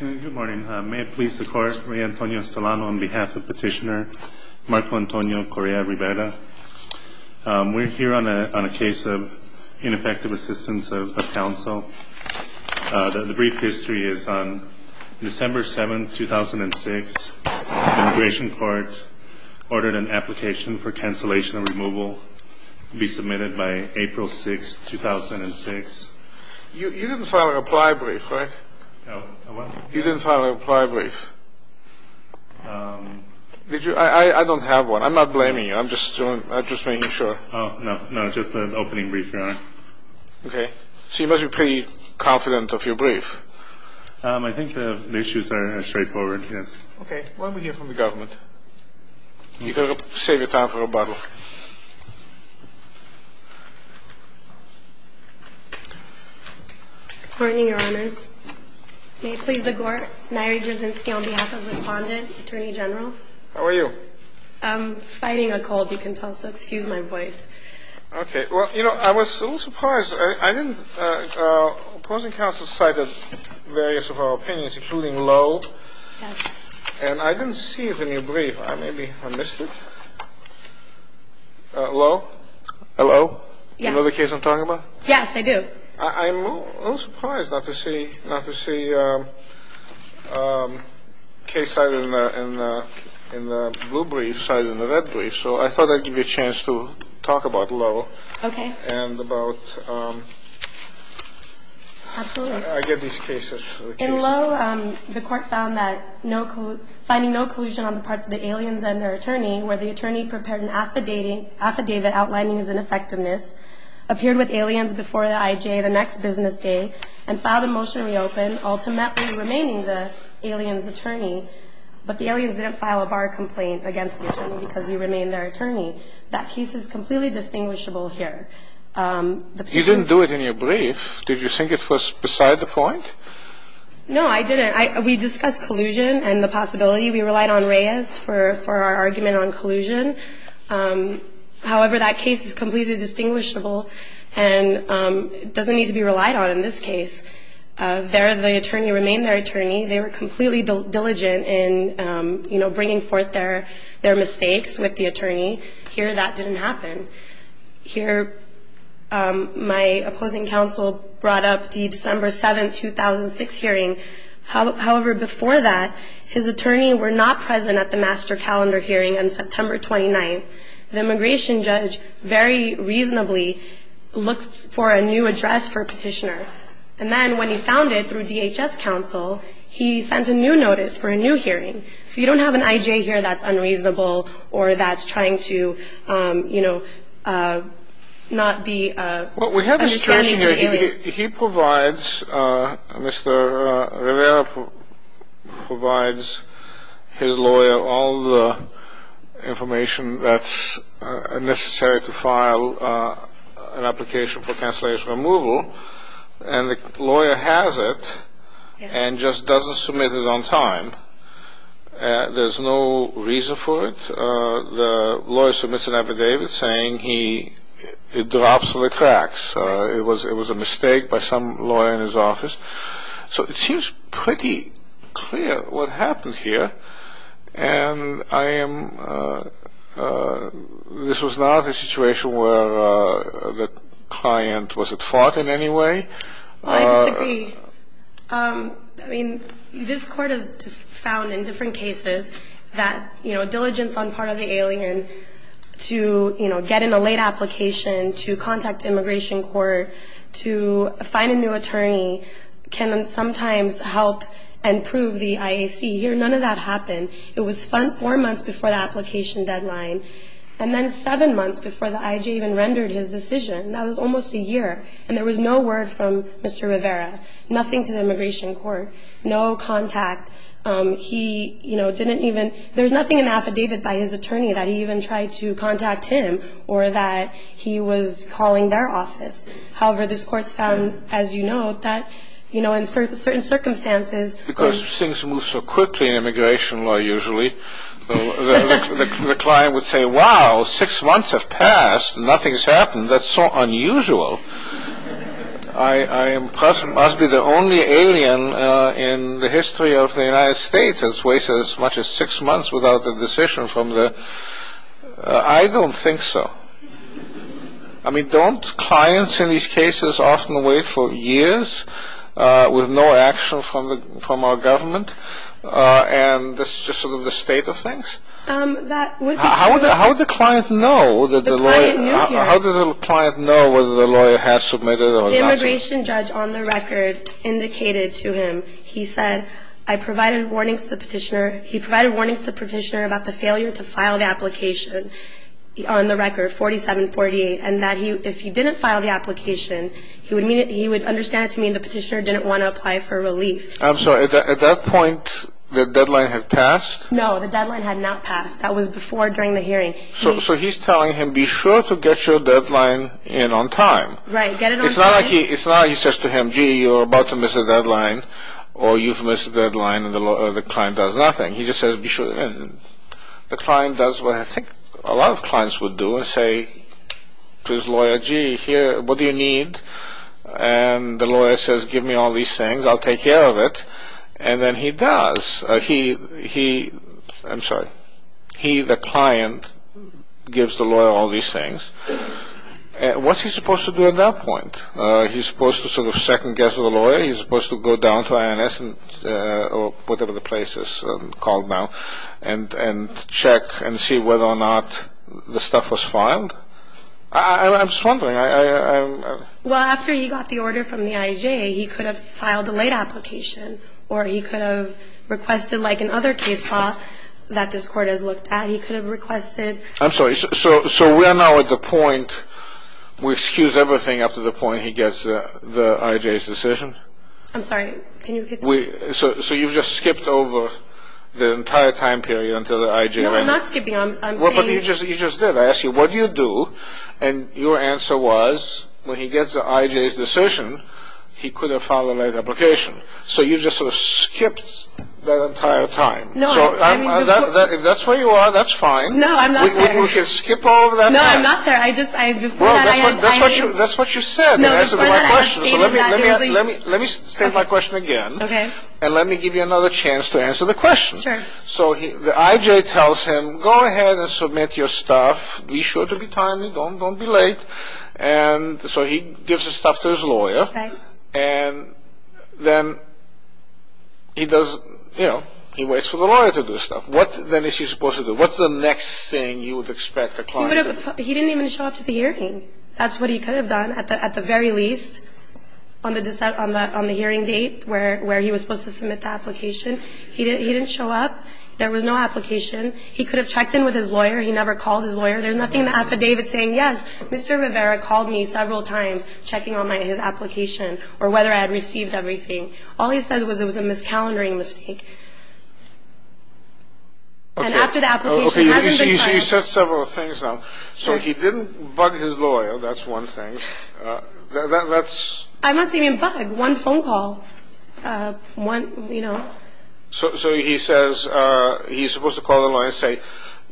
Good morning. May it please the Court, Rey Antonio Estolano on behalf of Petitioner Marco Antonio Correa Rivera. We're here on a case of ineffective assistance of counsel. The brief history is on December 7, 2006. The Immigration Court ordered an application for cancellation of removal be submitted by April 6, 2006. You didn't file a reply brief, right? No. You didn't file a reply brief. I don't have one. I'm not blaming you. I'm just making sure. No, just an opening brief, Your Honor. Okay. So you must be pretty confident of your brief. I think the issues are straightforward, yes. Okay. Why don't we hear from the government? You've got to save your time for rebuttal. Good morning, Your Honors. May it please the Court, Nyree Brzezinski on behalf of Respondent Attorney General. How are you? I'm fighting a cold, you can tell, so excuse my voice. Okay. Well, you know, I was a little surprised. Because I didn't – opposing counsel cited various of our opinions, including Lowe. Yes. And I didn't see it in your brief. Maybe I missed it. Lowe? Hello? Yes. You know the case I'm talking about? Yes, I do. I'm a little surprised not to see a case cited in the blue brief cited in the red brief. So I thought I'd give you a chance to talk about Lowe. Okay. And about – Absolutely. I get these cases. In Lowe, the Court found that finding no collusion on the parts of the aliens and their attorney, where the attorney prepared an affidavit outlining his ineffectiveness, appeared with aliens before the IJ the next business day, and filed a motion to reopen, ultimately remaining the aliens' attorney, but the aliens didn't file a bar complaint against the attorney because he remained their attorney. That case is completely distinguishable here. You didn't do it in your brief. Did you think it was beside the point? No, I didn't. We discussed collusion and the possibility. We relied on Reyes for our argument on collusion. However, that case is completely distinguishable and doesn't need to be relied on in this case. There, the attorney remained their attorney. They were completely diligent in, you know, bringing forth their mistakes with the attorney. Here, that didn't happen. Here, my opposing counsel brought up the December 7, 2006 hearing. However, before that, his attorney were not present at the master calendar hearing on September 29. The immigration judge very reasonably looked for a new address for a petitioner. And then, when he found it through DHS counsel, he sent a new notice for a new hearing. So you don't have an IJ here that's unreasonable or that's trying to, you know, not be a stand-in to an alien. He provides, Mr. Rivera provides his lawyer all the information that's necessary to file an application for cancellation removal. And the lawyer has it and just doesn't submit it on time. There's no reason for it. The lawyer submits an affidavit saying he drops the cracks. It was a mistake by some lawyer in his office. So it seems pretty clear what happened here. And I am, this was not a situation where the client was at fault in any way. I disagree. I mean, this court has found in different cases that, you know, diligence on part of the alien to, you know, get in a late application, to contact the immigration court, to find a new attorney, can sometimes help and prove the IAC. Here, none of that happened. It was four months before the application deadline, and then seven months before the IJ even rendered his decision. That was almost a year. And there was no word from Mr. Rivera, nothing to the immigration court, no contact. He, you know, didn't even – there's nothing in the affidavit by his attorney that he even tried to contact him or that he was calling their office. However, this court's found, as you know, that, you know, in certain circumstances because things move so quickly in immigration law usually, the client would say, wow, six months have passed and nothing's happened. That's so unusual. I must be the only alien in the history of the United States that's wasted as much as six months without a decision from the – I don't think so. I mean, don't clients in these cases often wait for years with no action from our government? And that's just sort of the state of things? That would be true. How would the client know that the lawyer – The client knew here. How does the client know whether the lawyer has submitted or not? The immigration judge on the record indicated to him, he said, I provided warnings to the petitioner. He provided warnings to the petitioner about the failure to file the application on the record 4748 and that if he didn't file the application, he would understand it to mean the petitioner didn't want to apply for relief. I'm sorry. At that point, the deadline had passed? No. The deadline had not passed. That was before during the hearing. So he's telling him, be sure to get your deadline in on time. Right. Get it on time. It's not like he says to him, gee, you're about to miss a deadline or you've missed a deadline and the client does nothing. He just says, be sure to get it in. The client does what I think a lot of clients would do and say to his lawyer, gee, here, what do you need? And the lawyer says, give me all these things. I'll take care of it. And then he does. He – I'm sorry. He, the client, gives the lawyer all these things. What's he supposed to do at that point? He's supposed to sort of second-guess the lawyer? He's supposed to go down to INS or whatever the place is called now and check and see whether or not the stuff was filed? I'm just wondering. Well, after he got the order from the IJA, he could have filed a late application or he could have requested, like in other case law that this court has looked at, he could have requested. I'm sorry. So we're now at the point where he skews everything up to the point he gets the IJA's decision? I'm sorry. Can you repeat that? So you've just skipped over the entire time period until the IJA? No, I'm not skipping. You just did. I asked you, what do you do? And your answer was, when he gets the IJA's decision, he could have filed a late application. So you just sort of skipped that entire time. No. If that's where you are, that's fine. No, I'm not there. We can skip all of that time. No, I'm not there. That's what you said. You answered my question. So let me state my question again. Okay. And let me give you another chance to answer the question. Sure. So the IJA tells him, go ahead and submit your stuff. Be sure to be timely. Don't be late. And so he gives the stuff to his lawyer. Right. And then he does, you know, he waits for the lawyer to do stuff. What then is he supposed to do? What's the next thing you would expect a client to do? He didn't even show up to the hearing. That's what he could have done, at the very least, on the hearing date where he was supposed to submit the application. He didn't show up. There was no application. He could have checked in with his lawyer. He never called his lawyer. There's nothing in the affidavit saying, yes, Mr. Rivera called me several times, checking on his application or whether I had received everything. All he said was it was a miscalendering mistake. And after the application, he hasn't been fired. Okay. You said several things now. So he didn't bug his lawyer. That's one thing. I'm not saying he bugged. One phone call. One, you know. So he says he's supposed to call the lawyer and say,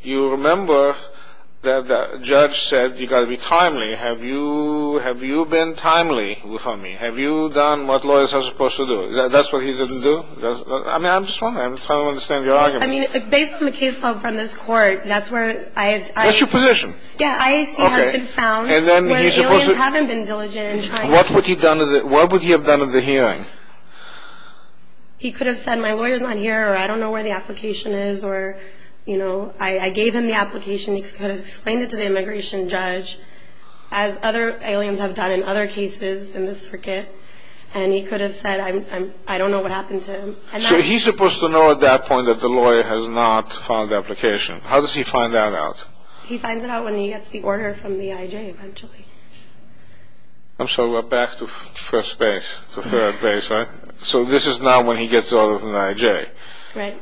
you remember the judge said you've got to be timely. Have you been timely with me? Have you done what lawyers are supposed to do? That's what he didn't do? I mean, I'm just trying to understand your argument. I mean, based on the case file from this court, that's where I... That's your position. Yeah. IAC has been found. Okay. And then he's supposed to... Where aliens haven't been diligent in trying to... What would he have done at the hearing? He could have said, my lawyer's not here, or I don't know where the application is, or, you know... I gave him the application. He could have explained it to the immigration judge, as other aliens have done in other cases in this circuit. And he could have said, I don't know what happened to him. So he's supposed to know at that point that the lawyer has not filed the application. How does he find that out? He finds it out when he gets the order from the I.J. eventually. I'm sorry. We're back to first base, to third base, right? So this is now when he gets the order from the I.J.? Right.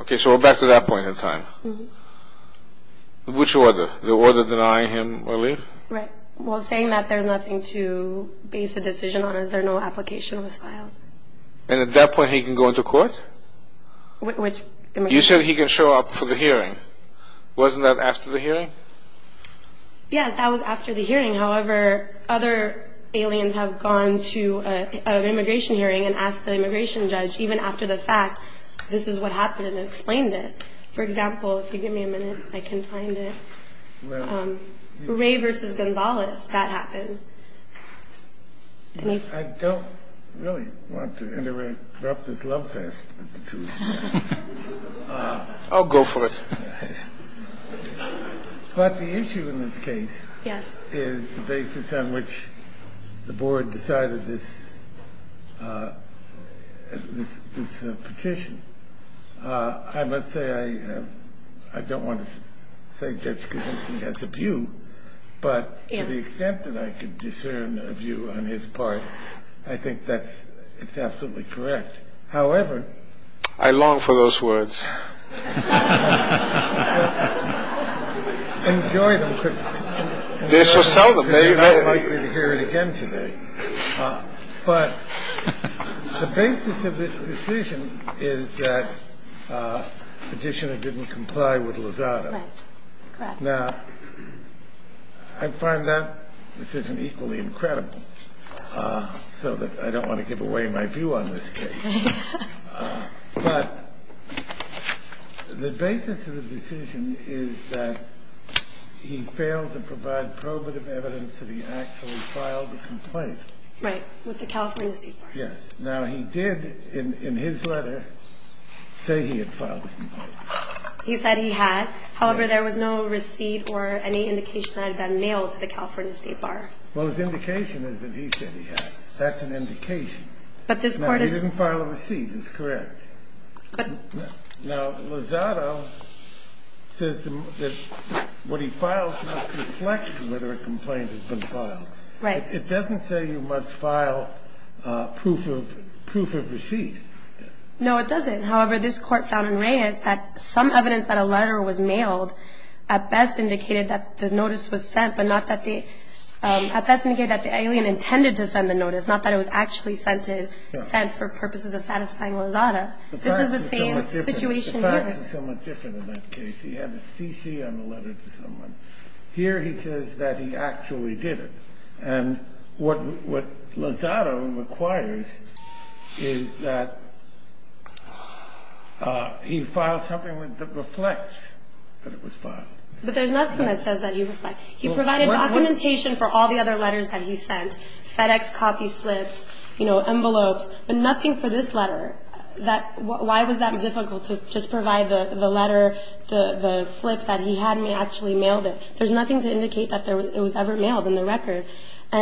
Okay. So we're back to that point in time. Mm-hmm. Which order? The order denying him relief? Right. Well, saying that, there's nothing to base a decision on. Is there no application that was filed? And at that point, he can go into court? You said he can show up for the hearing. Wasn't that after the hearing? Yes, that was after the hearing. However, other aliens have gone to an immigration hearing and asked the immigration judge, even after the fact, this is what happened and explained it. For example, if you give me a minute, I can find it. Where? Ray v. Gonzalez, that happened. I don't really want to interrupt this love fest. I'll go for it. But the issue in this case is the basis on which the board decided this petition. I must say, I don't want to say Judge Kavinsky has a view. But to the extent that I can discern a view on his part, I think that's absolutely correct. However. I long for those words. Enjoy them, Chris. They're so seldom. You're not likely to hear it again today. But the basis of this decision is that the petitioner didn't comply with Lozada. Now, I find that decision equally incredible so that I don't want to give away my view on this case. But the basis of the decision is that he failed to provide probative evidence that he actually filed a complaint. Right. With the California State Bar. Yes. Now, he did, in his letter, say he had filed a complaint. He said he had. However, there was no receipt or any indication that it had been mailed to the California State Bar. Well, his indication is that he said he had. That's an indication. But this Court is. No, he didn't file a receipt. It's correct. But. Now, Lozada says that when he files, he must reflect whether a complaint has been filed. Right. It doesn't say you must file proof of receipt. No, it doesn't. However, this Court found in Reyes that some evidence that a letter was mailed at best indicated that the notice was sent, but not that the alien intended to send the notice, not that it was actually sent for purposes of satisfying Lozada. This is the same situation here. The facts are somewhat different in that case. He had the CC on the letter to someone. Here he says that he actually did it. And what Lozada requires is that he file something that reflects that it was filed. But there's nothing that says that he reflected. He provided documentation for all the other letters that he sent, FedEx copy slips, you know, envelopes, but nothing for this letter. Why was that difficult to just provide the letter, the slip that he had actually mailed it? There's nothing to indicate that it was ever mailed in the record.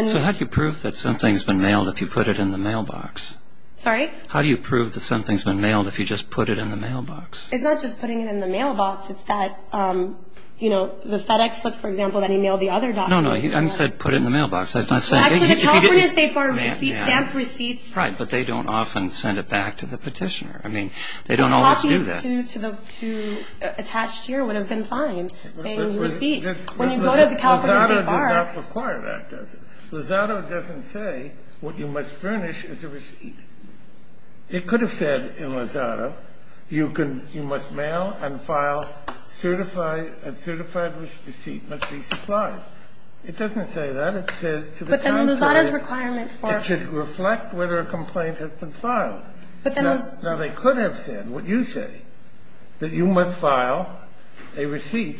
So how do you prove that something's been mailed if you put it in the mailbox? Sorry? How do you prove that something's been mailed if you just put it in the mailbox? It's not just putting it in the mailbox. It's that, you know, the FedEx slip, for example, that he mailed the other documents. No, no. I said put it in the mailbox. I'm not saying he didn't. Actually, the California State Bar stamped receipts. Right. But they don't often send it back to the petitioner. I mean, they don't always do that. Copying it to attached here would have been fine, saying receipts. When you go to the California State Bar. Lozada does not require that, does it? Lozada doesn't say what you must furnish is a receipt. It could have said in Lozada, you must mail and file a certified receipt must be supplied. It doesn't say that. It says to the downside. But then Lozada's requirement for. It should reflect whether a complaint has been filed. But then. Now, they could have said what you say, that you must file a receipt,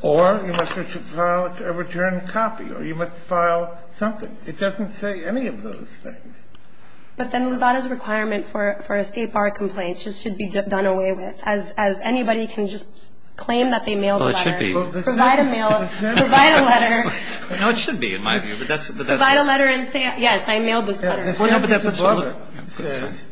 or you must file a return copy, or you must file something. It doesn't say any of those things. But then Lozada's requirement for a State Bar complaint should be done away with. As anybody can just claim that they mailed a letter. Well, it should be. Provide a mail. Provide a letter. No, it should be, in my view. Provide a letter and say, yes, I mailed this letter. No, but that's what Lozada says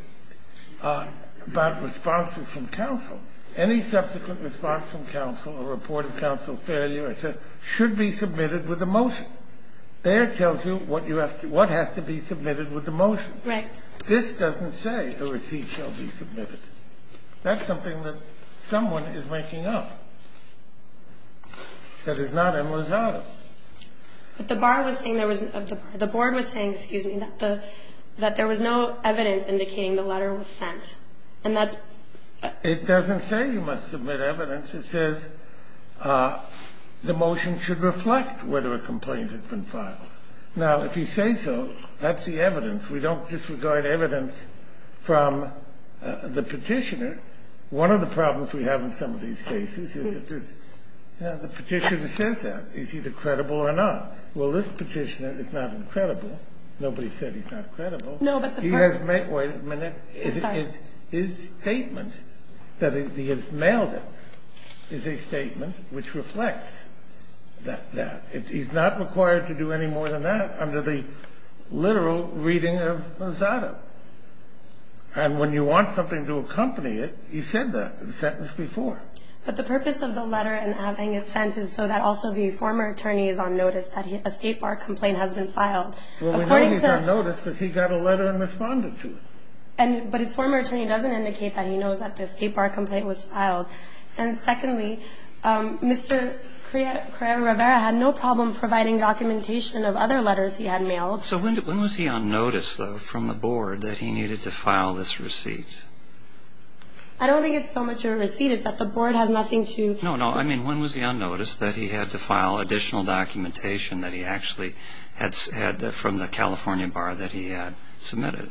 about responses from counsel. Any subsequent response from counsel or report of counsel failure, I said, should be submitted with a motion. There it tells you what has to be submitted with a motion. Right. This doesn't say a receipt shall be submitted. That's something that someone is making up that is not in Lozada. But the Bar was saying there was no evidence indicating the letter was sent. And that's. It doesn't say you must submit evidence. It says the motion should reflect whether a complaint has been filed. Now, if you say so, that's the evidence. We don't disregard evidence from the Petitioner. One of the problems we have in some of these cases is that the Petitioner says that. He's either credible or not. Well, this Petitioner is not credible. Nobody said he's not credible. He has made his statement that he has mailed it. And that is a statement which reflects that. He's not required to do any more than that under the literal reading of Lozada. And when you want something to accompany it, he said that sentence before. But the purpose of the letter and having it sent is so that also the former attorney is on notice that a State Bar complaint has been filed. Well, we know he's on notice because he got a letter and responded to it. But his former attorney doesn't indicate that. He knows that the State Bar complaint was filed. And secondly, Mr. Correa Rivera had no problem providing documentation of other letters he had mailed. So when was he on notice, though, from the Board that he needed to file this receipt? I don't think it's so much a receipt. It's that the Board has nothing to do with it. No, no. I mean, when was he on notice that he had to file additional documentation that he actually had said from the California Bar that he had submitted?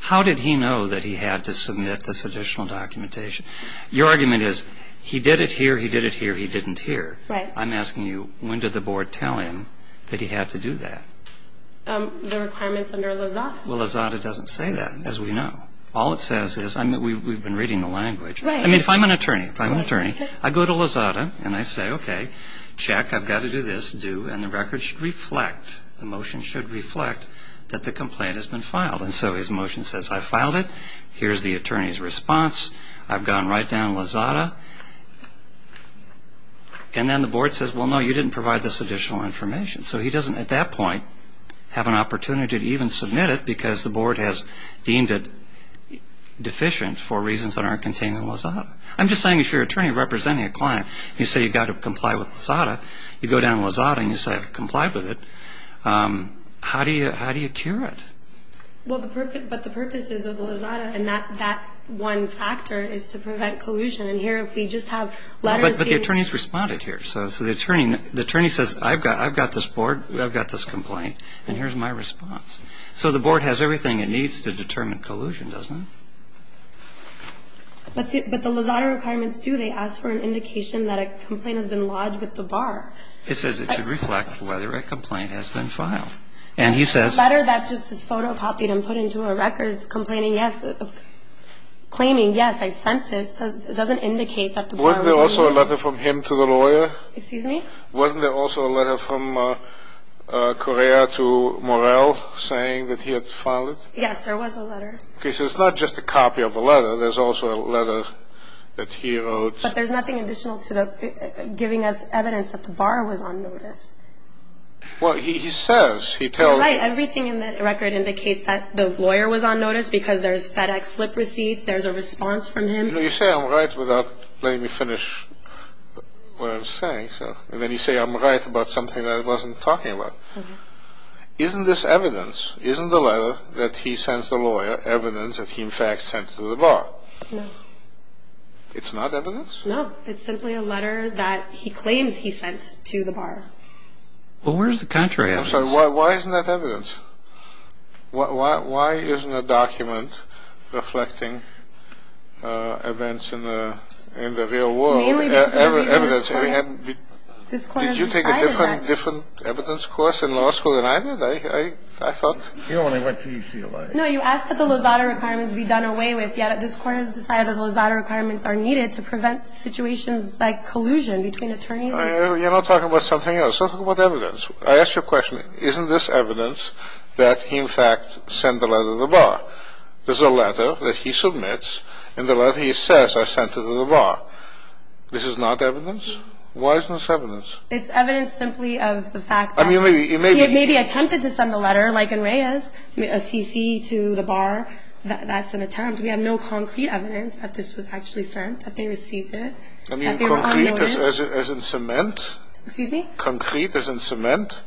How did he know that he had to submit this additional documentation? Your argument is he did it here, he did it here, he didn't here. Right. I'm asking you, when did the Board tell him that he had to do that? The requirements under Lozada. Well, Lozada doesn't say that, as we know. All it says is we've been reading the language. Right. I mean, if I'm an attorney, if I'm an attorney, I go to Lozada and I say, okay, check, I've got to do this, due, and the record should reflect, the motion should reflect that the complaint has been filed. And so his motion says, I filed it, here's the attorney's response, I've gone right down to Lozada, and then the Board says, well, no, you didn't provide this additional information. So he doesn't, at that point, have an opportunity to even submit it because the Board has deemed it deficient for reasons that aren't contained in Lozada. I'm just saying if you're an attorney representing a client, you say you've got to comply with Lozada, you go down to Lozada and you say I've complied with it, how do you cure it? Well, but the purpose is of Lozada, and that one factor is to prevent collusion. And here, if we just have letters being ---- But the attorney's responded here. So the attorney says, I've got this Board, I've got this complaint, and here's my response. So the Board has everything it needs to determine collusion, doesn't it? But the Lozada requirements do. And it says, it should reflect whether a complaint has been filed. And he says ---- The letter that just is photocopied and put into a record is complaining, yes, claiming, yes, I sent this. It doesn't indicate that the Board was ---- Wasn't there also a letter from him to the lawyer? Excuse me? Wasn't there also a letter from Correa to Morell saying that he had filed it? Yes, there was a letter. Okay. So it's not just a copy of the letter. There's also a letter that he wrote. But there's nothing additional to the ---- giving us evidence that the bar was on notice. Well, he says, he tells ---- You're right. Everything in that record indicates that the lawyer was on notice because there's FedEx slip receipts, there's a response from him. You know, you say I'm right without letting me finish what I'm saying. And then you say I'm right about something I wasn't talking about. Isn't this evidence, isn't the letter that he sends the lawyer evidence that he, in fact, sent to the bar? No. It's not evidence? No. It's simply a letter that he claims he sent to the bar. Well, where's the contrary evidence? Why isn't that evidence? Why isn't a document reflecting events in the real world evidence? This Court has decided that. Did you take a different evidence course in law school than I did, I thought? You only went to UCLA. No, you asked that the Lozada requirements be done away with. Yeah, this Court has decided that the Lozada requirements are needed to prevent situations like collusion between attorneys. You're not talking about something else. You're talking about evidence. I ask you a question. Isn't this evidence that he, in fact, sent the letter to the bar? There's a letter that he submits and the letter he says I sent to the bar. This is not evidence? Why isn't this evidence? It's evidence simply of the fact that he maybe attempted to send the letter, like in Reyes, a CC to the bar. That's an attempt. We have no concrete evidence that this was actually sent, that they received it, that they were on notice. You mean concrete as in cement? Excuse me? Concrete as in cement?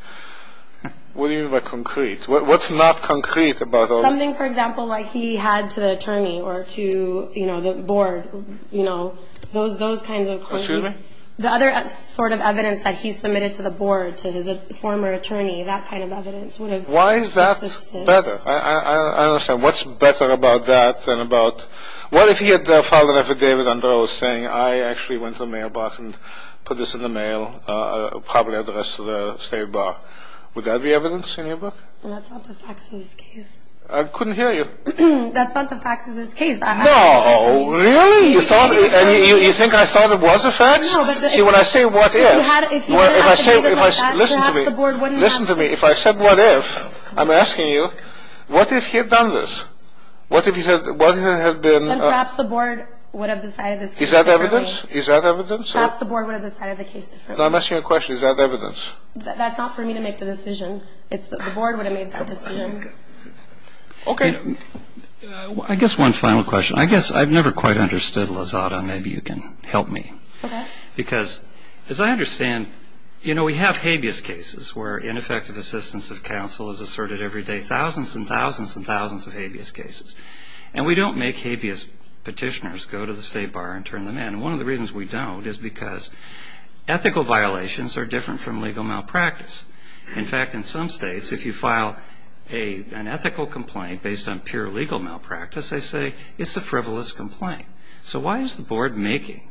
What do you mean by concrete? What's not concrete about all this? Something, for example, like he had to the attorney or to, you know, the board, you know, those kinds of concrete. Excuse me? The other sort of evidence that he submitted to the board, to his former attorney, that kind of evidence would have existed. Why is that better? I don't understand. What's better about that than about what if he had filed an affidavit under oath saying I actually went to the mailbox and put this in the mail, probably addressed to the state bar? Would that be evidence in your book? That's not the facts of this case. I couldn't hear you. That's not the facts of this case. No, really? You think I thought it was a fact? See, when I say what if, if I say, listen to me, listen to me, if I said what if, I'm asking you what if he had done this? What if he had, what if it had been? Then perhaps the board would have decided this case differently. Is that evidence? Is that evidence? Perhaps the board would have decided the case differently. I'm asking you a question. Is that evidence? That's not for me to make the decision. It's that the board would have made that decision. Okay. I guess one final question. I guess I've never quite understood Lazada. Maybe you can help me. Okay. Because as I understand, you know, we have habeas cases where ineffective assistance of counsel is asserted every day, thousands and thousands and thousands of habeas cases. And we don't make habeas petitioners go to the state bar and turn them in. One of the reasons we don't is because ethical violations are different from legal malpractice. In fact, in some states, if you file an ethical complaint based on pure legal malpractice, they say it's a frivolous complaint. So why is the board making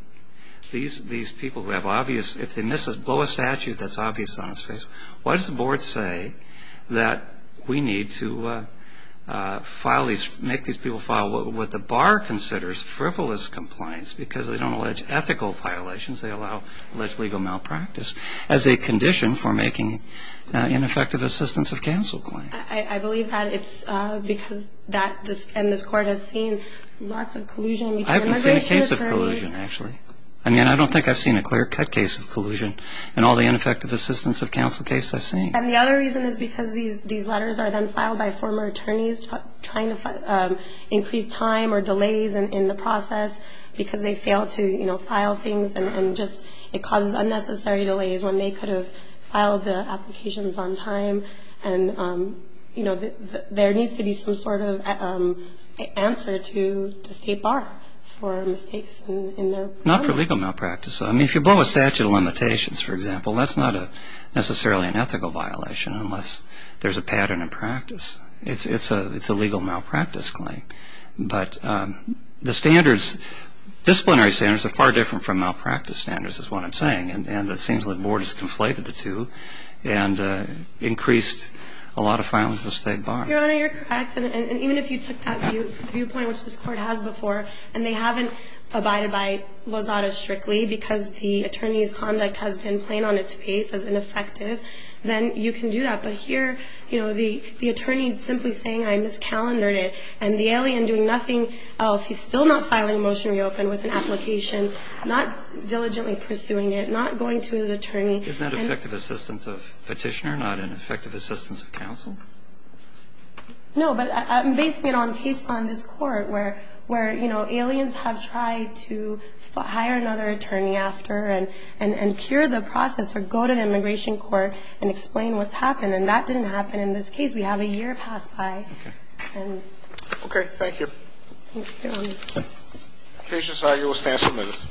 these people who have obvious, if they blow a statute that's obvious on its face, why does the board say that we need to make these people file what the bar considers frivolous compliance because they don't allege ethical violations, they allege legal malpractice, as a condition for making ineffective assistance of counsel claims? I believe that it's because that and this court has seen lots of collusion between immigration attorneys. I haven't seen a case of collusion, actually. I mean, I don't think I've seen a clear-cut case of collusion in all the ineffective assistance of counsel cases I've seen. And the other reason is because these letters are then filed by former attorneys trying to increase time or delays in the process because they fail to, you know, file things and just it causes unnecessary delays when they could have filed the applications on time and, you know, there needs to be some sort of answer to the state bar for mistakes in their program. Not for legal malpractice. I mean, if you blow a statute of limitations, for example, that's not necessarily an ethical violation unless there's a pattern in practice. It's a legal malpractice claim. But the standards, disciplinary standards, are far different from malpractice standards is what I'm saying, and it seems the board has conflated the two and increased a lot of filings to the state bar. Your Honor, you're correct. And even if you took that viewpoint, which this court has before, and they haven't abided by Lozada strictly because the attorney's conduct has been plain on its face as ineffective, then you can do that. But here, you know, the attorney simply saying I miscalendered it and the alien doing nothing else. He's still not filing a motion to reopen with an application, not diligently pursuing it, not going to his attorney. Is that effective assistance of petitioner, not an effective assistance of counsel? No. But based on this court where, you know, aliens have tried to hire another attorney after and cure the process or go to the immigration court and explain what's happened, and that didn't happen in this case. We have a year passed by. Okay. Okay. Thank you. Thank you, Your Honor. Okay. The case is now yours to answer.